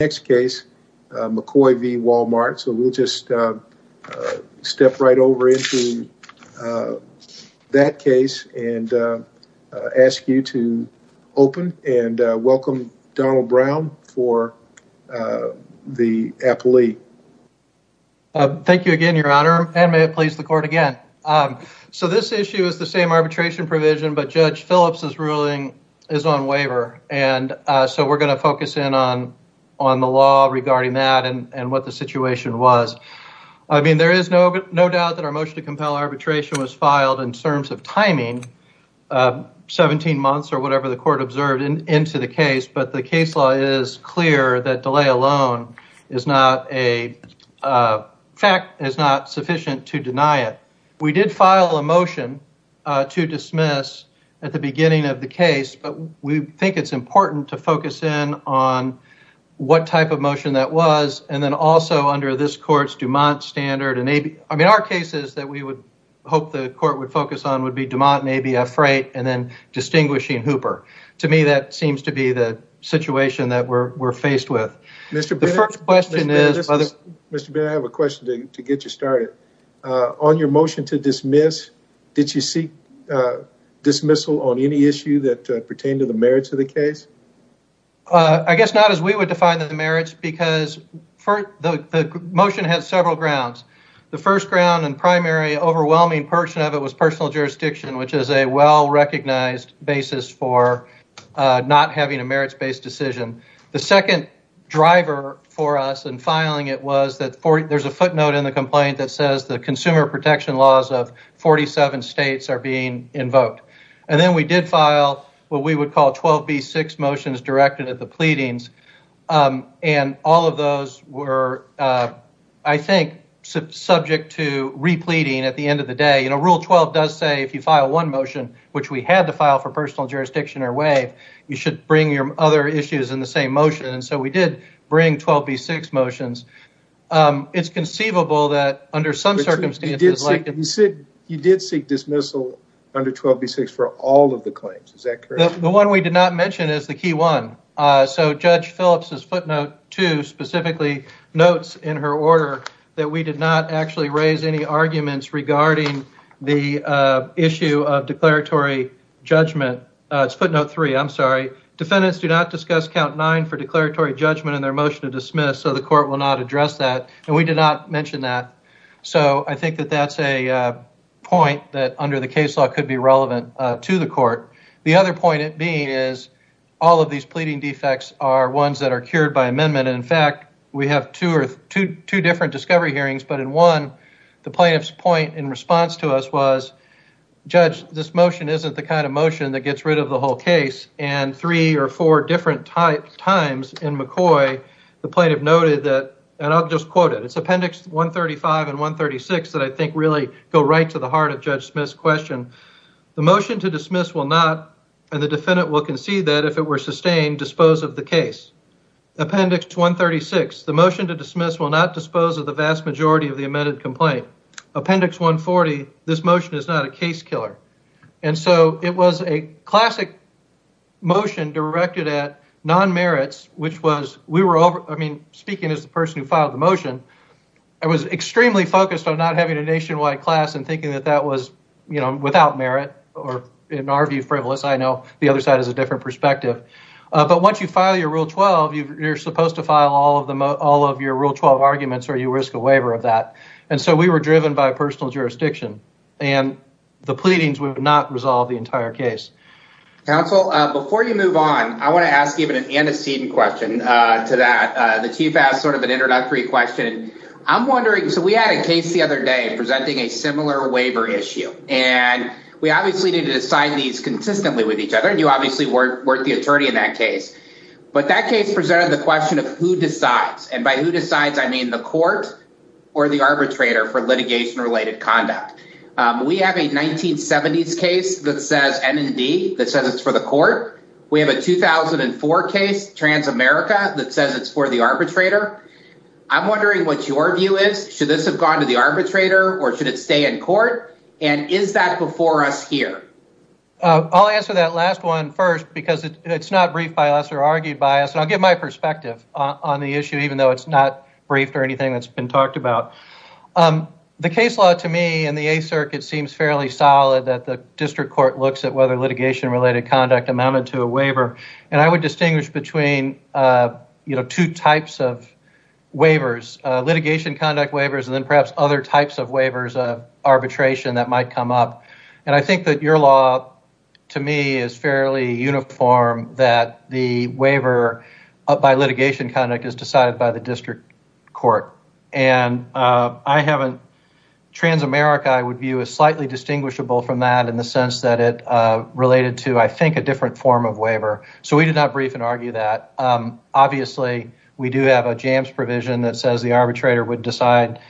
Next case, McCoy v. Walmart, so we'll just step right over into that case and ask you to open and welcome Donald Brown for the appellee. Thank you again, Your Honor, and may it please the court again. So this issue is the same arbitration provision, but Judge Phillips' ruling is on waiver, and we're going to focus in on the law regarding that and what the situation was. I mean, there is no doubt that our motion to compel arbitration was filed in terms of timing, 17 months or whatever the court observed into the case, but the case law is clear that delay alone is not a fact, is not sufficient to deny it. We did file a motion to dismiss at the beginning of the case, but we think it's important to focus in on what type of motion that was, and then also under this court's DuMont standard. I mean, our cases that we would hope the court would focus on would be DuMont and ABF Freight and then distinguishing Hooper. To me, that seems to be the situation that we're faced with. Mr. Bennett, I have a question to get you started. On your motion to dismiss, did you seek dismissal on any issue that pertained to the merits of the case? I guess not as we would define the merits, because the motion has several grounds. The first ground and primary overwhelming portion of it was personal jurisdiction, which is a well-recognized basis for not having a merits-based decision. The second driver for us in filing it was that there's a footnote in the complaint that says the consumer protection laws of 47 states are being invoked. And then we did file what we would call 12B6 motions directed at the pleadings, and all of those were, I think, subject to repleting at the end of the day. Rule 12 does say if you file one motion, which we had to file for personal jurisdiction or WAVE, you should bring your other issues in the same motion, and so we did bring 12B6 motions. It's conceivable that under some circumstances, you did seek dismissal under 12B6 for all of the claims. Is that correct? The one we did not mention is the key one. So Judge Phillips's footnote two specifically notes in her order that we did not actually raise any arguments regarding the issue of declaratory judgment. It's footnote three, I'm sorry. Defendants do not discuss count nine for declaratory judgment in their motion to dismiss, so the court will not address that. We did not mention that. So I think that that's a point that under the case law could be relevant to the court. The other point being is all of these pleading defects are ones that are cured by amendment. In fact, we have two different discovery hearings, but in one, the plaintiff's point in response to us was, Judge, this motion isn't the kind of motion that gets rid of the whole case. And three or four different times in McCoy, the plaintiff noted that, and I'll just quote it. It's appendix 135 and 136 that I think really go right to the heart of Judge Smith's question. The motion to dismiss will not, and the defendant will concede that if it were sustained, dispose of the case. Appendix 136, the motion to dismiss will not dispose of the vast majority of the amended complaint. Appendix 140, this motion is not a case killer. And so it was a classic motion directed at non-merits, which was, we were all, I mean, speaking as the person who filed the motion, I was extremely focused on not having a nationwide class and thinking that that was, you know, without merit or in our view, frivolous. I know the other side has a different perspective. But once you file your rule 12, you're supposed to file all of your rule 12 arguments or you risk a waiver of that. And so we were driven by personal jurisdiction and the pleadings would not resolve the entire case. Counsel, before you move on, I want to ask you an antecedent question to that. The Chief asked sort of an introductory question. I'm wondering, so we had a case the other day presenting a similar waiver issue, and we obviously need to decide these consistently with each other. And you obviously weren't the attorney in that case. But that case presented the question of who decides, and by who decides, I mean the court or the arbitrator for litigation related conduct. We have a 1970s case that says MND, that says it's for the court. We have a 2004 case, Transamerica, that says it's for the arbitrator. I'm wondering what your view is. Should this have gone to the arbitrator or should it stay in court? And is that before us here? I'll answer that last one first because it's not briefed by us or argued by us. And I'll give my perspective on the issue, even though it's not briefed or anything that's been talked about. The case law to me in the 8th Circuit seems fairly solid that the district court looks at whether between two types of waivers, litigation conduct waivers and perhaps other types of waivers of arbitration that might come up. And I think that your law to me is fairly uniform that the waiver by litigation conduct is decided by the district court. And Transamerica, I would view, is slightly distinguishable from that in the sense that it related to, I think, a different form of waiver. So we did not brief and argue that. Obviously, we do have a jams provision that says the arbitrator would decide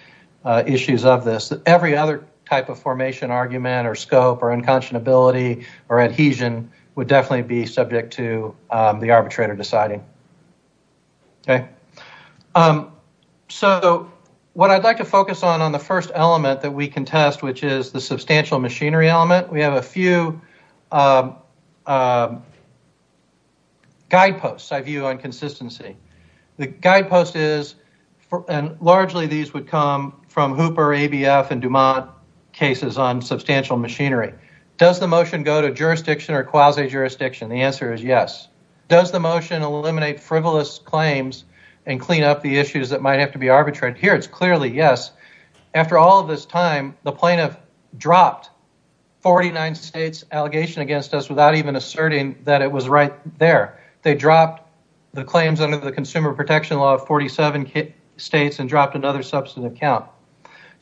issues of this. Every other type of formation argument or scope or unconscionability or adhesion would definitely be subject to the arbitrator deciding. So what I'd like to focus on on the first element that we can test, which is the substantial machinery. Guideposts, I view on consistency. The guidepost is, and largely these would come from Hooper, ABF and Dumont cases on substantial machinery. Does the motion go to jurisdiction or quasi-jurisdiction? The answer is yes. Does the motion eliminate frivolous claims and clean up the issues that might have to be arbitrated? Here it's clearly yes. After all of this time, the plaintiff dropped 49 states' allegation against us without even asserting that it was right there. They dropped the claims under the Consumer Protection Law of 47 states and dropped another substantive count.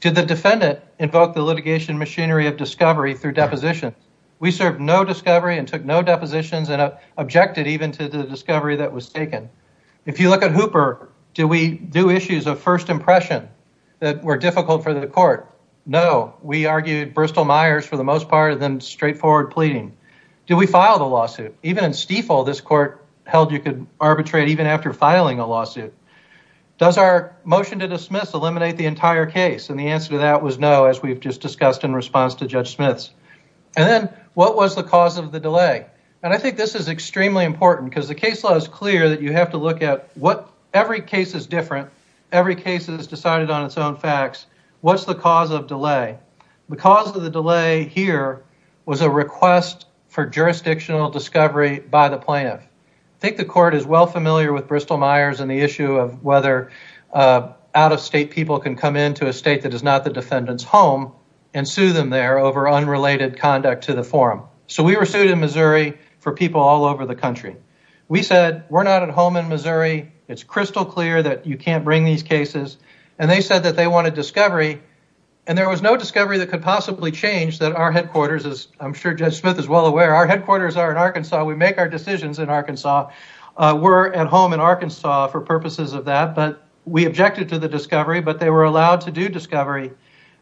Did the defendant invoke the litigation machinery of discovery through deposition? We served no discovery and took no depositions and objected even to the discovery that was taken. If you look at Hooper, do we do issues of first impression that were argued Bristol Myers for the most part and straightforward pleading? Did we file the lawsuit? Even in Stiefel, this court held you could arbitrate even after filing a lawsuit. Does our motion to dismiss eliminate the entire case? The answer to that was no, as we've just discussed in response to Judge Smith's. And then what was the cause of the delay? I think this is extremely important because the case law is clear that you have to look at every case is different. Every case is decided on its own facts. What's the cause of delay? The cause of the delay here was a request for jurisdictional discovery by the plaintiff. I think the court is well familiar with Bristol Myers and the issue of whether out of state people can come into a state that is not the defendant's home and sue them there over unrelated conduct to the forum. So we were sued in Missouri for people all over the country. We said we're not at home in Arkansas. It's crystal clear that you can't bring these cases. And they said that they wanted discovery. And there was no discovery that could possibly change that our headquarters, as I'm sure Judge Smith is well aware, our headquarters are in Arkansas. We make our decisions in Arkansas. We're at home in Arkansas for purposes of that. But we objected to the discovery, but they were allowed to do discovery.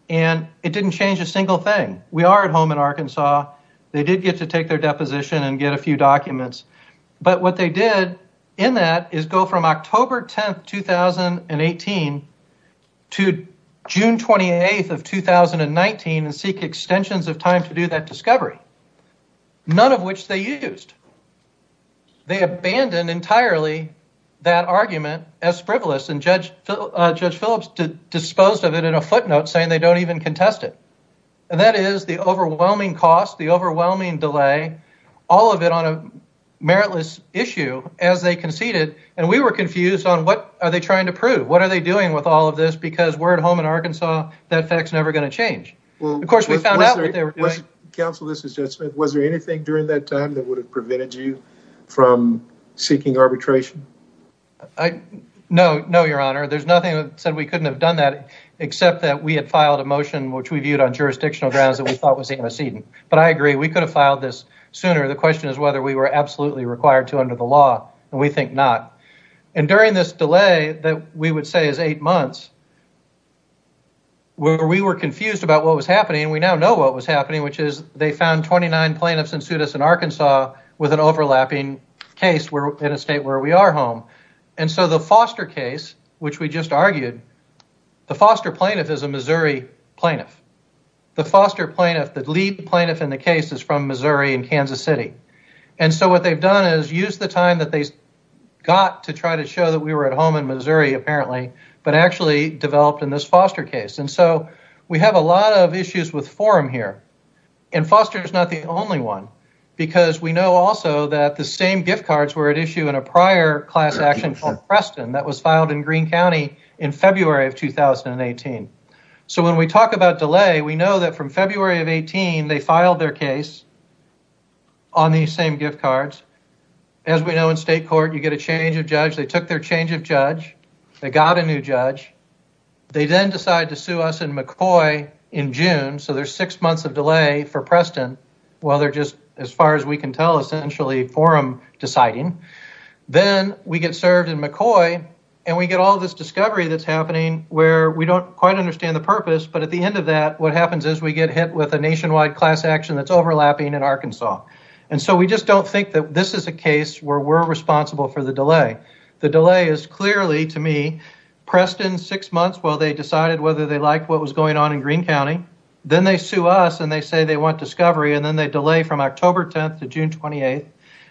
And it didn't change a single thing. We are at home in Arkansas. They did get to take their deposition and get a few documents. But what they did in that is go from October 10th, 2018 to June 28th of 2019 and seek extensions of time to do that discovery. None of which they used. They abandoned entirely that argument as frivolous. And Judge Phillips disposed of it in a footnote saying they don't even contest it. And that is the overwhelming cost, the overwhelming delay, all of it on a meritless issue as they conceded. And we were confused on what are they trying to prove? What are they doing with all of this? Because we're at home in Arkansas. That fact's never going to change. Of course, we found out what they were doing. Counsel, this is Judge Smith. Was there anything during that time that would have prevented you from seeking arbitration? No, your honor. There's nothing that said we couldn't have done that except that we had filed a motion which we viewed on jurisdictional grounds that we thought was antecedent. But I agree, we could have filed this sooner. The question is whether we were absolutely required to under the law. And we think not. And during this delay that we would say is eight months, we were confused about what was happening. We now know what was happening, which is they found 29 plaintiffs in Arkansas with an overlapping case in a state where we are home. And so the Foster case, which we just argued, the Foster plaintiff is a Missouri plaintiff. The Foster plaintiff, the lead plaintiff in the case is from Missouri and Kansas City. And so what they've done is used the time that they got to try to show that we were at home in Missouri, apparently, but actually developed in this Foster case. And so we have a lot of issues with form here. And Foster is not the only one, because we know also that the same gift cards were at issue in a prior class action called Preston that was filed in Greene County in February of 2018. So when we talk about delay, we know that from February of 18, they filed their case on these same gift cards. As we know in state court, you get a change of judge. They took their change of judge. They got a new judge. They then decide to sue us in McCoy in June. So there's six months of delay for Preston. Well, they're just, as far as we can tell, essentially forum deciding. Then we get served in McCoy and we get all this discovery that's happening where we don't quite understand the purpose. But at the end of that, what happens is we get hit with a nationwide class action that's overlapping in Arkansas. And so we just don't think that this is a case where we're responsible for the delay. The delay is clearly, to me, Preston six months while they decided whether they liked what was going on in Greene County. Then they sue us and they say they want discovery. And then they delay from October 10th to June 28th.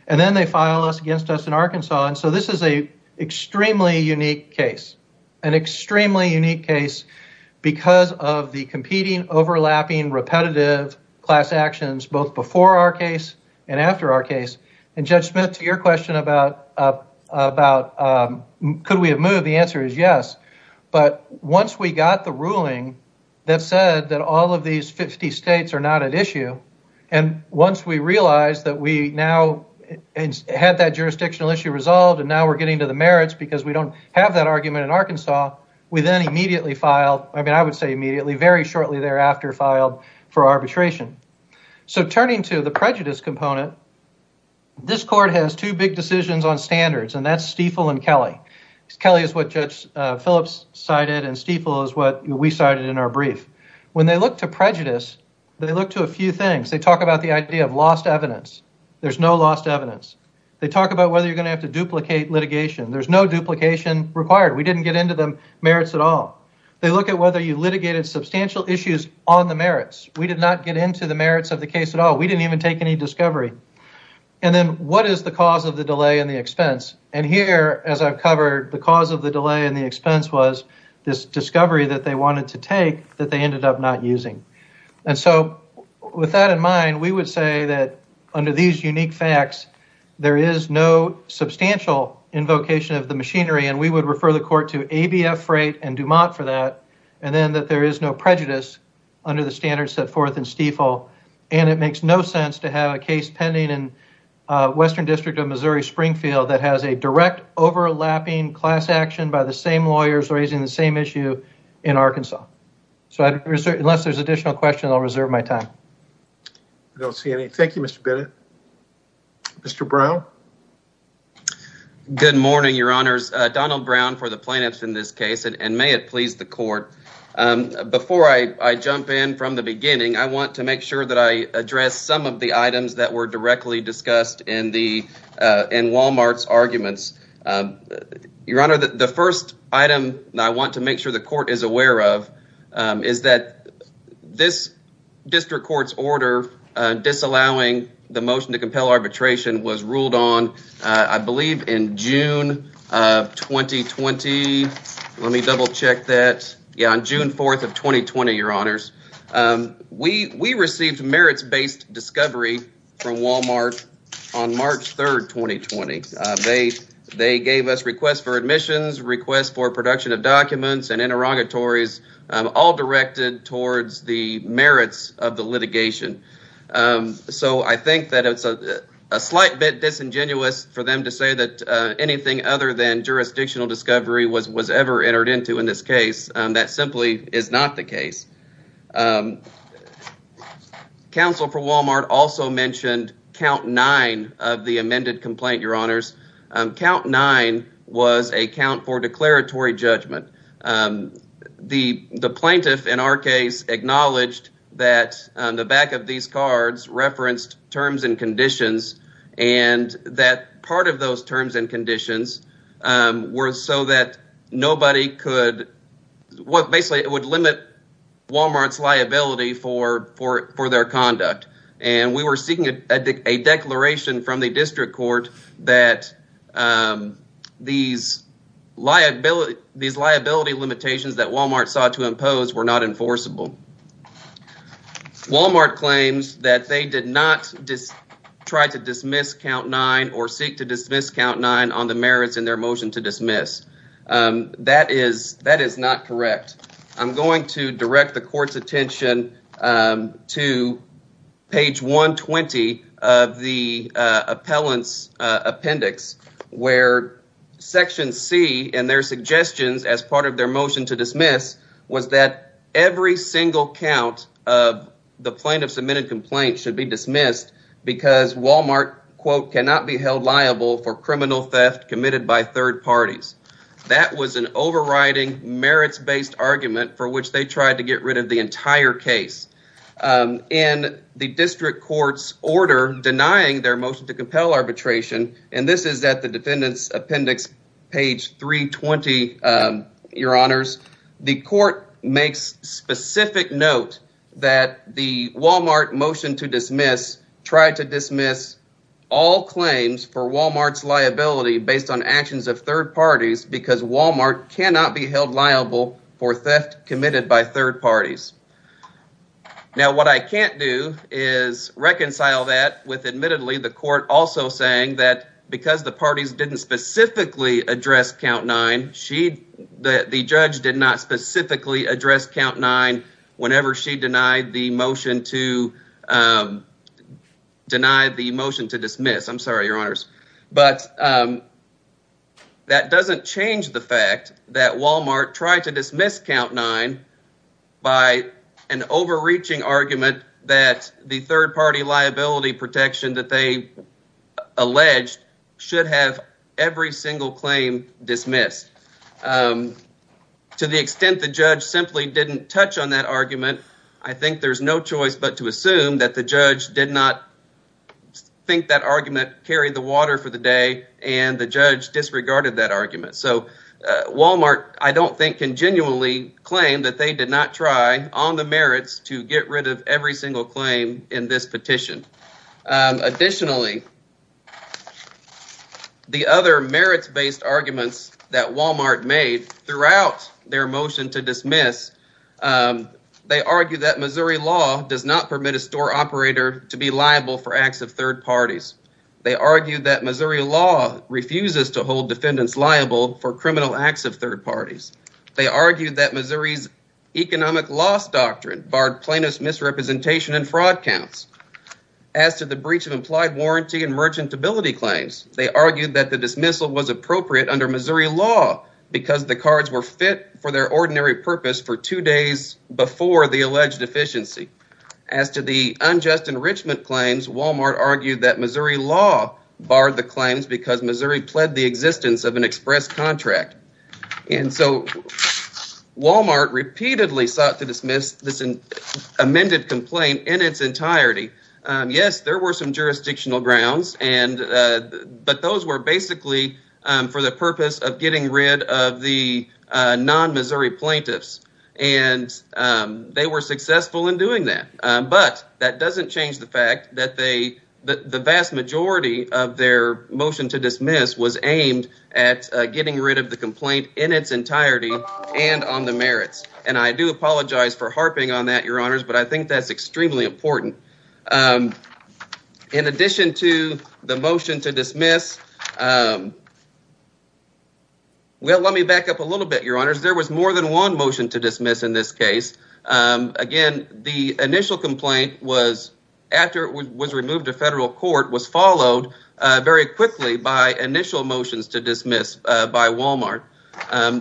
And then they file us against us in Arkansas. And so this is a extremely unique case. An extremely unique case because of the competing, overlapping, repetitive class actions both before our case and after our case. And Judge Smith, to your question about could we have moved, the answer is yes. But once we got the ruling that said that all of these 50 states are not at issue, and once we realized that we now had that jurisdictional issue resolved and now we're getting to the merits because we don't have that argument in Arkansas, we then immediately filed, I mean I would say immediately, very shortly thereafter filed for arbitration. So turning to the prejudice component, this court has two big decisions on standards and that's Stiefel and Kelly. Kelly is what Judge Phillips cited and Stiefel is what we cited in our brief. When they look to prejudice, they look to a few things. They talk about the idea of lost evidence. There's no lost evidence. They talk about whether you're going to have to duplicate litigation. There's no duplication required. We didn't get into the merits at all. They look at whether you litigated substantial issues on the merits. We did not get into the merits of the case at all. We didn't even take any discovery. And then what is the cause of the delay in the expense? And here, as I've covered, the cause of the delay in the expense was this discovery that they wanted to take that they ended up not using. And so with that in mind, we would say that under these unique facts, there is no substantial invocation of the machinery and we would refer the court to ABF Freight and Dumont for that and then that there is no prejudice under the standards set forth in Stiefel and it makes no sense to have a case pending in Western District of Missouri Springfield that has a direct overlapping class action by the same lawyers raising the same issue in Arkansas. So unless there's additional questions, I'll reserve my time. I don't see any. Thank you, Mr. Bennett. Mr. Brown? Good morning, your honors. Donald Brown for the plaintiffs in this case and may it please the court. Before I jump in from the beginning, I want to make sure that I address some of the items that were directly discussed in Walmart's arguments. Your honor, the first item I want to make sure the court is aware of is that this district court's order disallowing the motion to compel arbitration was ruled on, I believe in June of 2020. Let me double check that. Yeah, on June 4th 2020, your honors. We received merits-based discovery from Walmart on March 3rd 2020. They gave us requests for admissions, requests for production of documents and interrogatories all directed towards the merits of the litigation. So I think that it's a slight bit disingenuous for them to say that anything other than jurisdictional discovery was ever entered into in this case. That simply is not the case. Counsel for Walmart also mentioned count nine of the amended complaint, your honors. Count nine was a count for declaratory judgment. The plaintiff in our case acknowledged that on the back of these cards referenced terms and what basically would limit Walmart's liability for their conduct and we were seeking a declaration from the district court that these liability limitations that Walmart sought to impose were not enforceable. Walmart claims that they did not just try to dismiss count nine or seek dismiss count nine on the merits in their motion to dismiss. That is not correct. I'm going to direct the court's attention to page 120 of the appellant's appendix where section C and their suggestions as part of their motion to dismiss was that every single count of the plaintiff's complaint should be dismissed because Walmart quote cannot be held liable for criminal theft committed by third parties. That was an overriding merits-based argument for which they tried to get rid of the entire case. In the district court's order denying their motion to compel arbitration, and this is at the defendant's appendix page 320, your honors, the court makes specific note that the Walmart motion to dismiss tried to dismiss all claims for Walmart's liability based on actions of third parties because Walmart cannot be held liable for theft committed by third parties. Now, what I can't do is reconcile that with admittedly the court also saying that because the parties didn't specifically address count nine, the judge did not specifically address count nine whenever she denied the motion to dismiss. I'm sorry, your honors, but that doesn't change the fact that Walmart tried to dismiss count nine by an overreaching argument that the third party liability protection that they alleged should have every single claim dismissed. To the extent the judge simply didn't touch on that argument, I think there's no choice but to assume that the judge did not think that argument carried the water for the day and the judge disregarded that argument. So Walmart, I don't think, can genuinely claim that they did not try on the merits to get rid of every single claim in this petition. Additionally, the other merits-based arguments that Walmart made throughout their motion to dismiss, they argue that Missouri law does not permit a store operator to be liable for acts of third parties. They argue that Missouri law refuses to hold defendants liable for criminal acts of third parties. They argue that Missouri's economic loss doctrine barred plaintiff's misrepresentation and claims. They argued that the dismissal was appropriate under Missouri law because the cards were fit for their ordinary purpose for two days before the alleged deficiency. As to the unjust enrichment claims, Walmart argued that Missouri law barred the claims because Missouri pled the existence of an express contract. And so Walmart repeatedly sought to dismiss this amended complaint in its entirety. Yes, there were some jurisdictional grounds, but those were basically for the purpose of getting rid of the non-Missouri plaintiffs. And they were successful in doing that. But that doesn't change the fact that the vast majority of their motion to dismiss was aimed at getting rid of the complaint in its entirety and on the merits. And I do apologize for harping on that, your honors, but I think that's extremely important. In addition to the motion to dismiss, well, let me back up a little bit, your honors. There was more than one motion to dismiss in this case. Again, the initial complaint was, after it was removed to federal court, was followed very quickly by initial motions to dismiss by Walmart.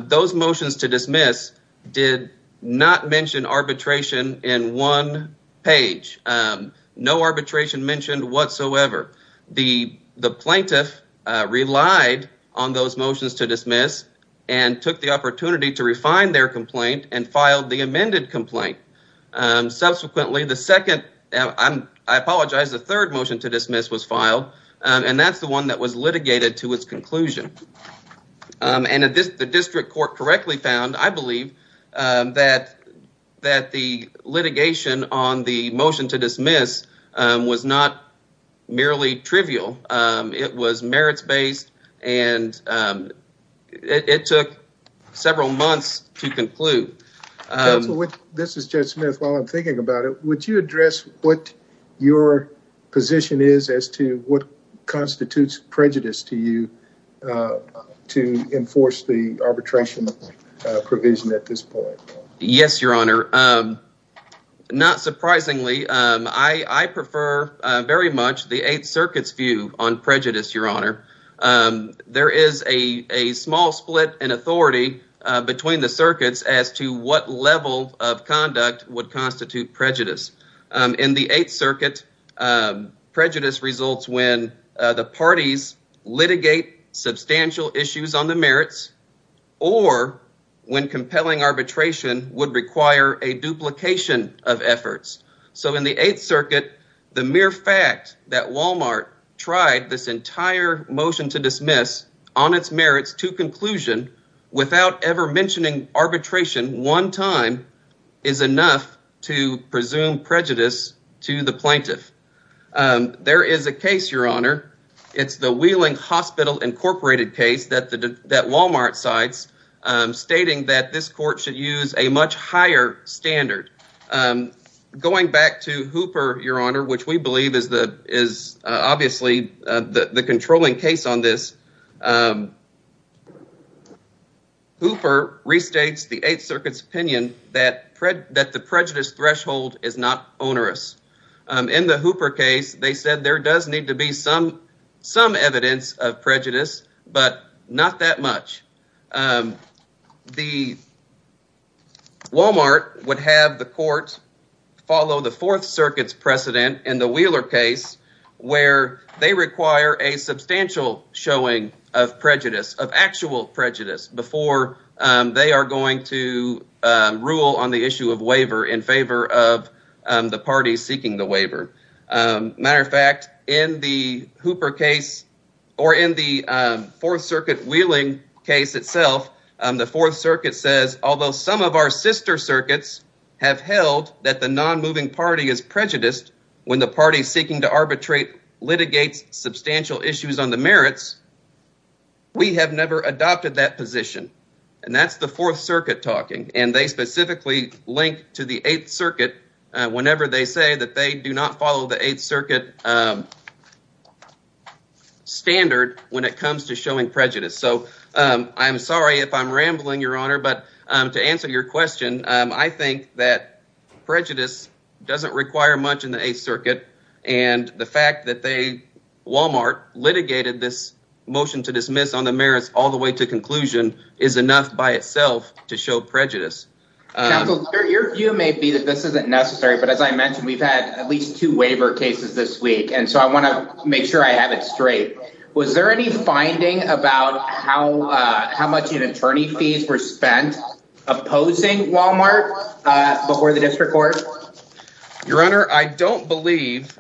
Those motions to dismiss did not mention arbitration in one page. No arbitration mentioned whatsoever. The plaintiff relied on those motions to dismiss and took the opportunity to refine their complaint and filed the amended complaint. Subsequently, the second, I apologize, the third motion to dismiss was filed, and that's the one that was litigated to its conclusion. And the district court correctly found, I believe, that the litigation on the motion to dismiss was not merely trivial. It was merits-based, and it took several months to conclude. Counsel, this is Judge Smith. While I'm thinking about it, would you address what your position is as to what constitutes prejudice to you to enforce the arbitration provision at this point? Yes, your honor. Not surprisingly, I prefer very much the Eighth Circuit's view on prejudice, your honor. There is a small split in authority between the circuits as to what level of conduct would constitute prejudice. In the Eighth Circuit, the mere fact that Walmart tried this entire motion to dismiss on its merits to conclusion without ever mentioning arbitration one time is enough to presume prejudice to the plaintiff. There is a case, your honor. It's the Wheeling Hospital Incorporated case that Walmart cites, stating that this court should use a much higher standard. Going back to Hooper, your honor, which we believe is obviously the controlling case on this, Hooper restates the Eighth Circuit's opinion that the prejudice threshold is not onerous. In the Hooper case, they said there does need to be some evidence of prejudice, but not that much. The Walmart would have the court follow the Fourth Circuit's precedent in the Wheeler case where they require a substantial showing of prejudice, of actual prejudice, before they are issued a waiver in favor of the parties seeking the waiver. As a matter of fact, in the Hooper case or in the Fourth Circuit Wheeling case itself, the Fourth Circuit says, although some of our sister circuits have held that the non-moving party is prejudiced when the party seeking to arbitrate litigates substantial issues on the merits, we have never adopted that position. And that's the Fourth Circuit talking, and they specifically link to the Eighth Circuit whenever they say that they do not follow the Eighth Circuit standard when it comes to showing prejudice. So, I'm sorry if I'm rambling, your honor, but to answer your question, I think that prejudice doesn't require much in the Eighth Circuit, and the fact that Walmart litigated this motion to dismiss on the merits all the way to conclusion is enough by itself to show prejudice. Counsel, your view may be that this isn't necessary, but as I mentioned, we've had at least two waiver cases this week, and so I want to make sure I have it straight. Was there any finding about how much in attorney fees were spent opposing Walmart before the district court? Your honor, I don't believe,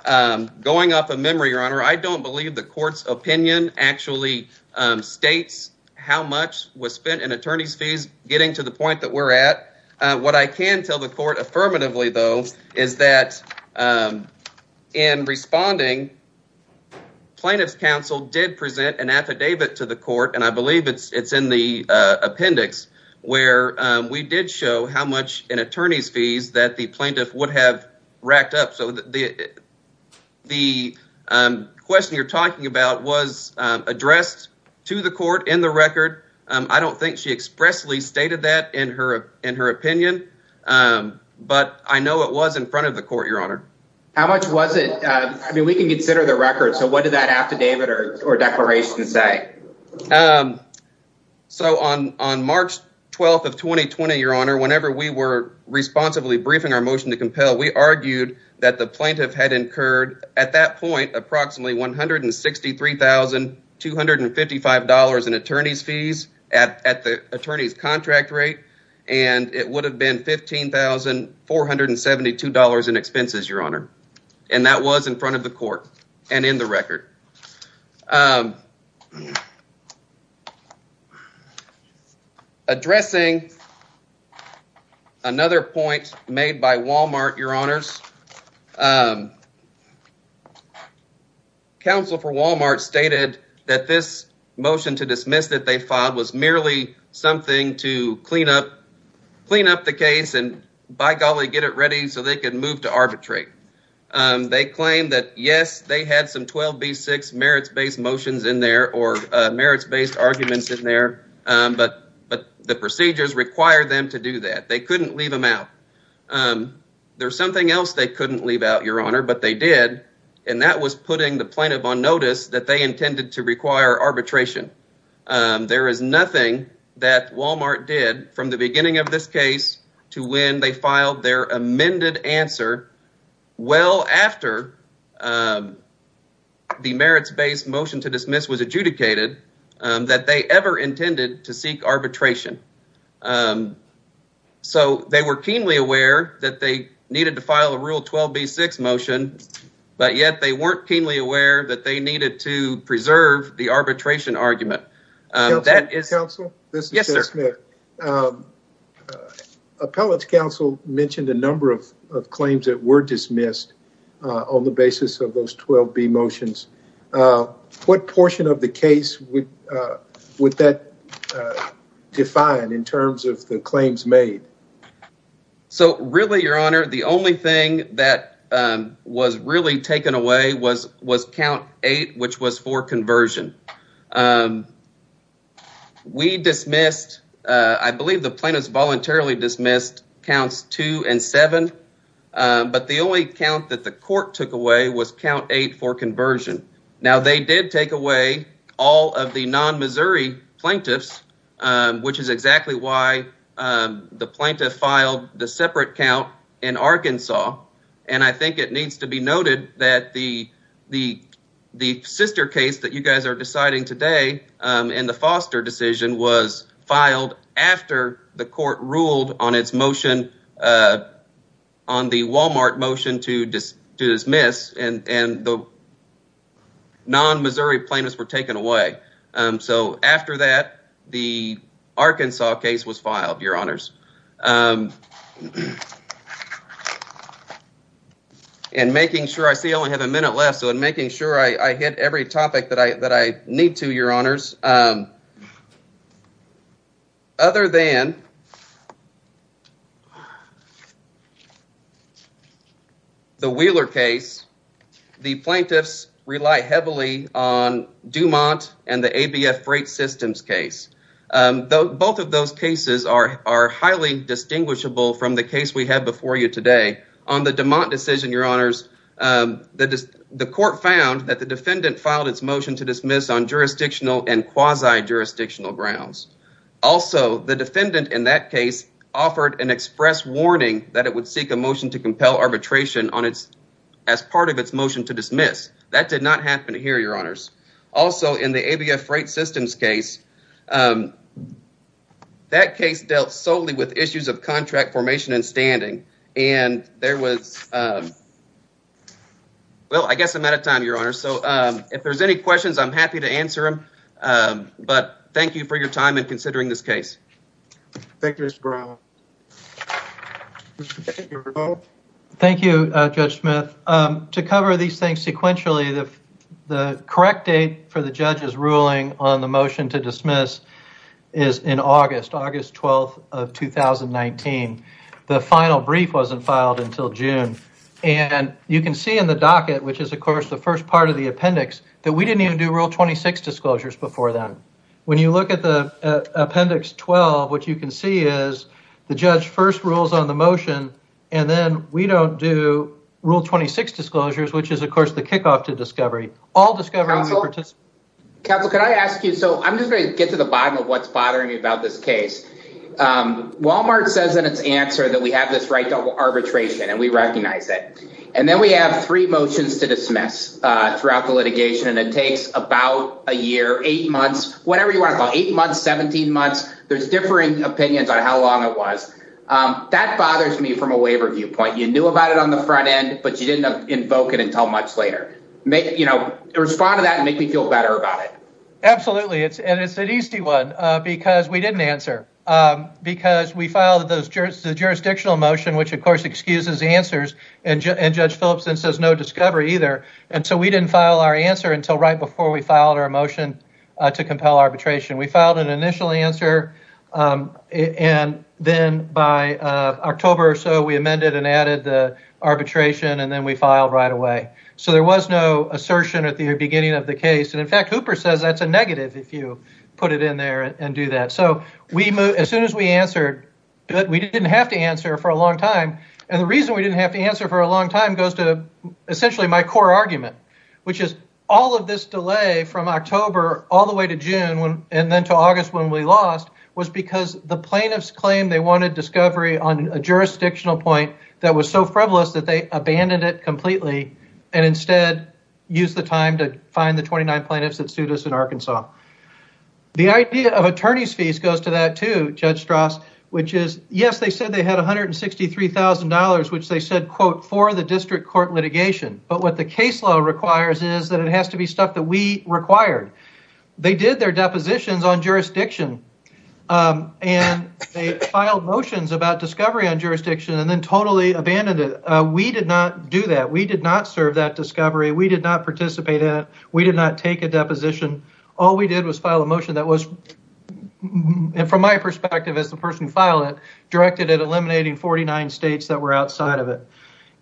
going off of memory, your honor, I don't believe the court's opinion actually states how much was spent in attorney's fees, getting to the point that we're at. What I can tell the court affirmatively, though, is that in responding, plaintiff's counsel did present an affidavit to the court, and I believe it's in the appendix, where we did show how much in attorney's fees that the plaintiff would have racked up. So the question you're talking about was addressed to the court in the record. I don't think she expressly stated that in her opinion, but I know it was in front of the court, your honor. How much was it? I mean, we can consider the record, so what did that affidavit or declaration say? So on March 12th of 2020, your honor, whenever we were responsibly briefing our motion to compel, we argued that the plaintiff had incurred at that point approximately $163,255 in attorney's fees at the attorney's contract rate, and it would have been $15,472 in expenses, your honor, and that was in front of the court and in the record. Addressing another point made by Walmart, your honors, counsel for Walmart stated that this motion to dismiss that they filed was merely something to clean up the case and, by golly, get it ready so they could move to arbitrate. They claimed that, yes, they had some 12b6 merits-based motions in there or merits-based arguments in there, but the procedures required them to do that. They couldn't leave them out. There's something else they couldn't leave out, your honor, but they did, and that was putting the plaintiff on notice that they intended to require arbitration. There is nothing that Walmart did from the beginning of this case to when they filed their well after the merits-based motion to dismiss was adjudicated that they ever intended to seek arbitration. So, they were keenly aware that they needed to file a rule 12b6 motion, but yet they weren't keenly aware that they needed to preserve the arbitration argument. Appellate's counsel mentioned a number of claims that were dismissed on the basis of those 12b motions. What portion of the case would that define in terms of the claims made? So, really, your honor, the only thing that was really taken away was count eight, which was for conversion. We dismissed, I believe the plaintiffs voluntarily dismissed counts two and seven, but the only count that the court took away was count eight for conversion. Now, they did take away all of the non-Missouri plaintiffs, which is exactly why the plaintiff filed the separate count in Arkansas, and I think it needs to be noted that the sister case that you guys are deciding today in the Foster decision was filed after the court ruled on its motion on the Walmart motion to dismiss, and the non-Missouri plaintiffs were taken away. So, after that, the Arkansas case was dismissed. And making sure, I see I only have a minute left, so I'm making sure I hit every topic that I need to, your honors. Other than the Wheeler case, the plaintiffs rely heavily on Dumont and the ABF Freight Systems case. Both of those cases are highly distinguishable from the case we have before you today. On the Dumont decision, your honors, the court found that the defendant filed its motion to dismiss on jurisdictional and quasi-jurisdictional grounds. Also, the defendant in that case offered an express warning that it would seek a motion to compel arbitration as part of its motion to dismiss. That did not happen here, your honors. Also, in the ABF Freight Systems case, that case dealt solely with issues of contract formation and standing, and there was, well, I guess I'm out of time, your honors. So, if there's any questions, I'm happy to answer them, but thank you for your time in considering this case. Thank you, Mr. Brown. Thank you, Judge Smith. To cover these things sequentially, the correct date for the judge's motion is in August, August 12th of 2019. The final brief wasn't filed until June, and you can see in the docket, which is, of course, the first part of the appendix, that we didn't even do Rule 26 disclosures before then. When you look at the Appendix 12, what you can see is the judge first rules on the motion, and then we don't do Rule 26 disclosures, which is, of course, the kickoff to discovery. All discovery participants... me about this case. Walmart says in its answer that we have this right to arbitration, and we recognize it, and then we have three motions to dismiss throughout the litigation, and it takes about a year, eight months, whatever you want to call it, eight months, 17 months. There's differing opinions on how long it was. That bothers me from a waiver viewpoint. You knew about it on the front end, but you didn't invoke it until much later. You know, respond to that and make me feel better about it. Absolutely, and it's an easy one because we didn't answer, because we filed the jurisdictional motion, which, of course, excuses answers, and Judge Phillips then says no discovery either, and so we didn't file our answer until right before we filed our motion to compel arbitration. We filed an initial answer, and then by October or so, we amended and added the arbitration, and then we filed right away, so there was no assertion at the beginning of the case, and in fact, Hooper says that's a negative if you put it in there and do that, so as soon as we answered, we didn't have to answer for a long time, and the reason we didn't have to answer for a long time goes to essentially my core argument, which is all of this delay from October all the way to June and then to August when we lost was because the plaintiffs claimed they wanted discovery on a jurisdictional point that was so frivolous that they abandoned it the 29 plaintiffs that sued us in Arkansas. The idea of attorney's fees goes to that too, Judge Strauss, which is, yes, they said they had $163,000, which they said, quote, for the district court litigation, but what the case law requires is that it has to be stuff that we required. They did their depositions on jurisdiction, and they filed motions about discovery on jurisdiction and then totally abandoned it. We did not do that. We did not serve that discovery. We did not participate in it. We did not take a deposition. All we did was file a motion that was, from my perspective as the person who filed it, directed at eliminating 49 states that were outside of it,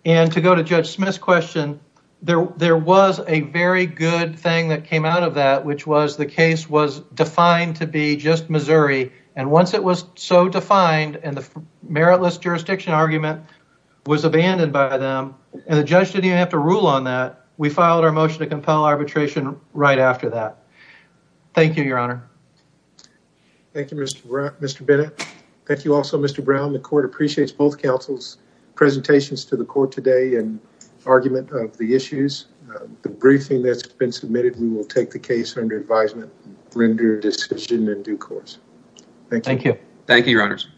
and to go to Judge Smith's question, there was a very good thing that came out of that, which was the case was defined to be just Missouri, and once it was so defined and the meritless jurisdiction argument was abandoned by them and the judge didn't even have to rule on that, we filed our motion to compel arbitration right after that. Thank you, Your Honor. Thank you, Mr. Bennett. Thank you also, Mr. Brown. The court appreciates both counsel's presentations to the court today and argument of the issues. The briefing that's been submitted, we will take the case under advisement and render a decision in due course. Thank you. Thank you. Thank you, Your Honors.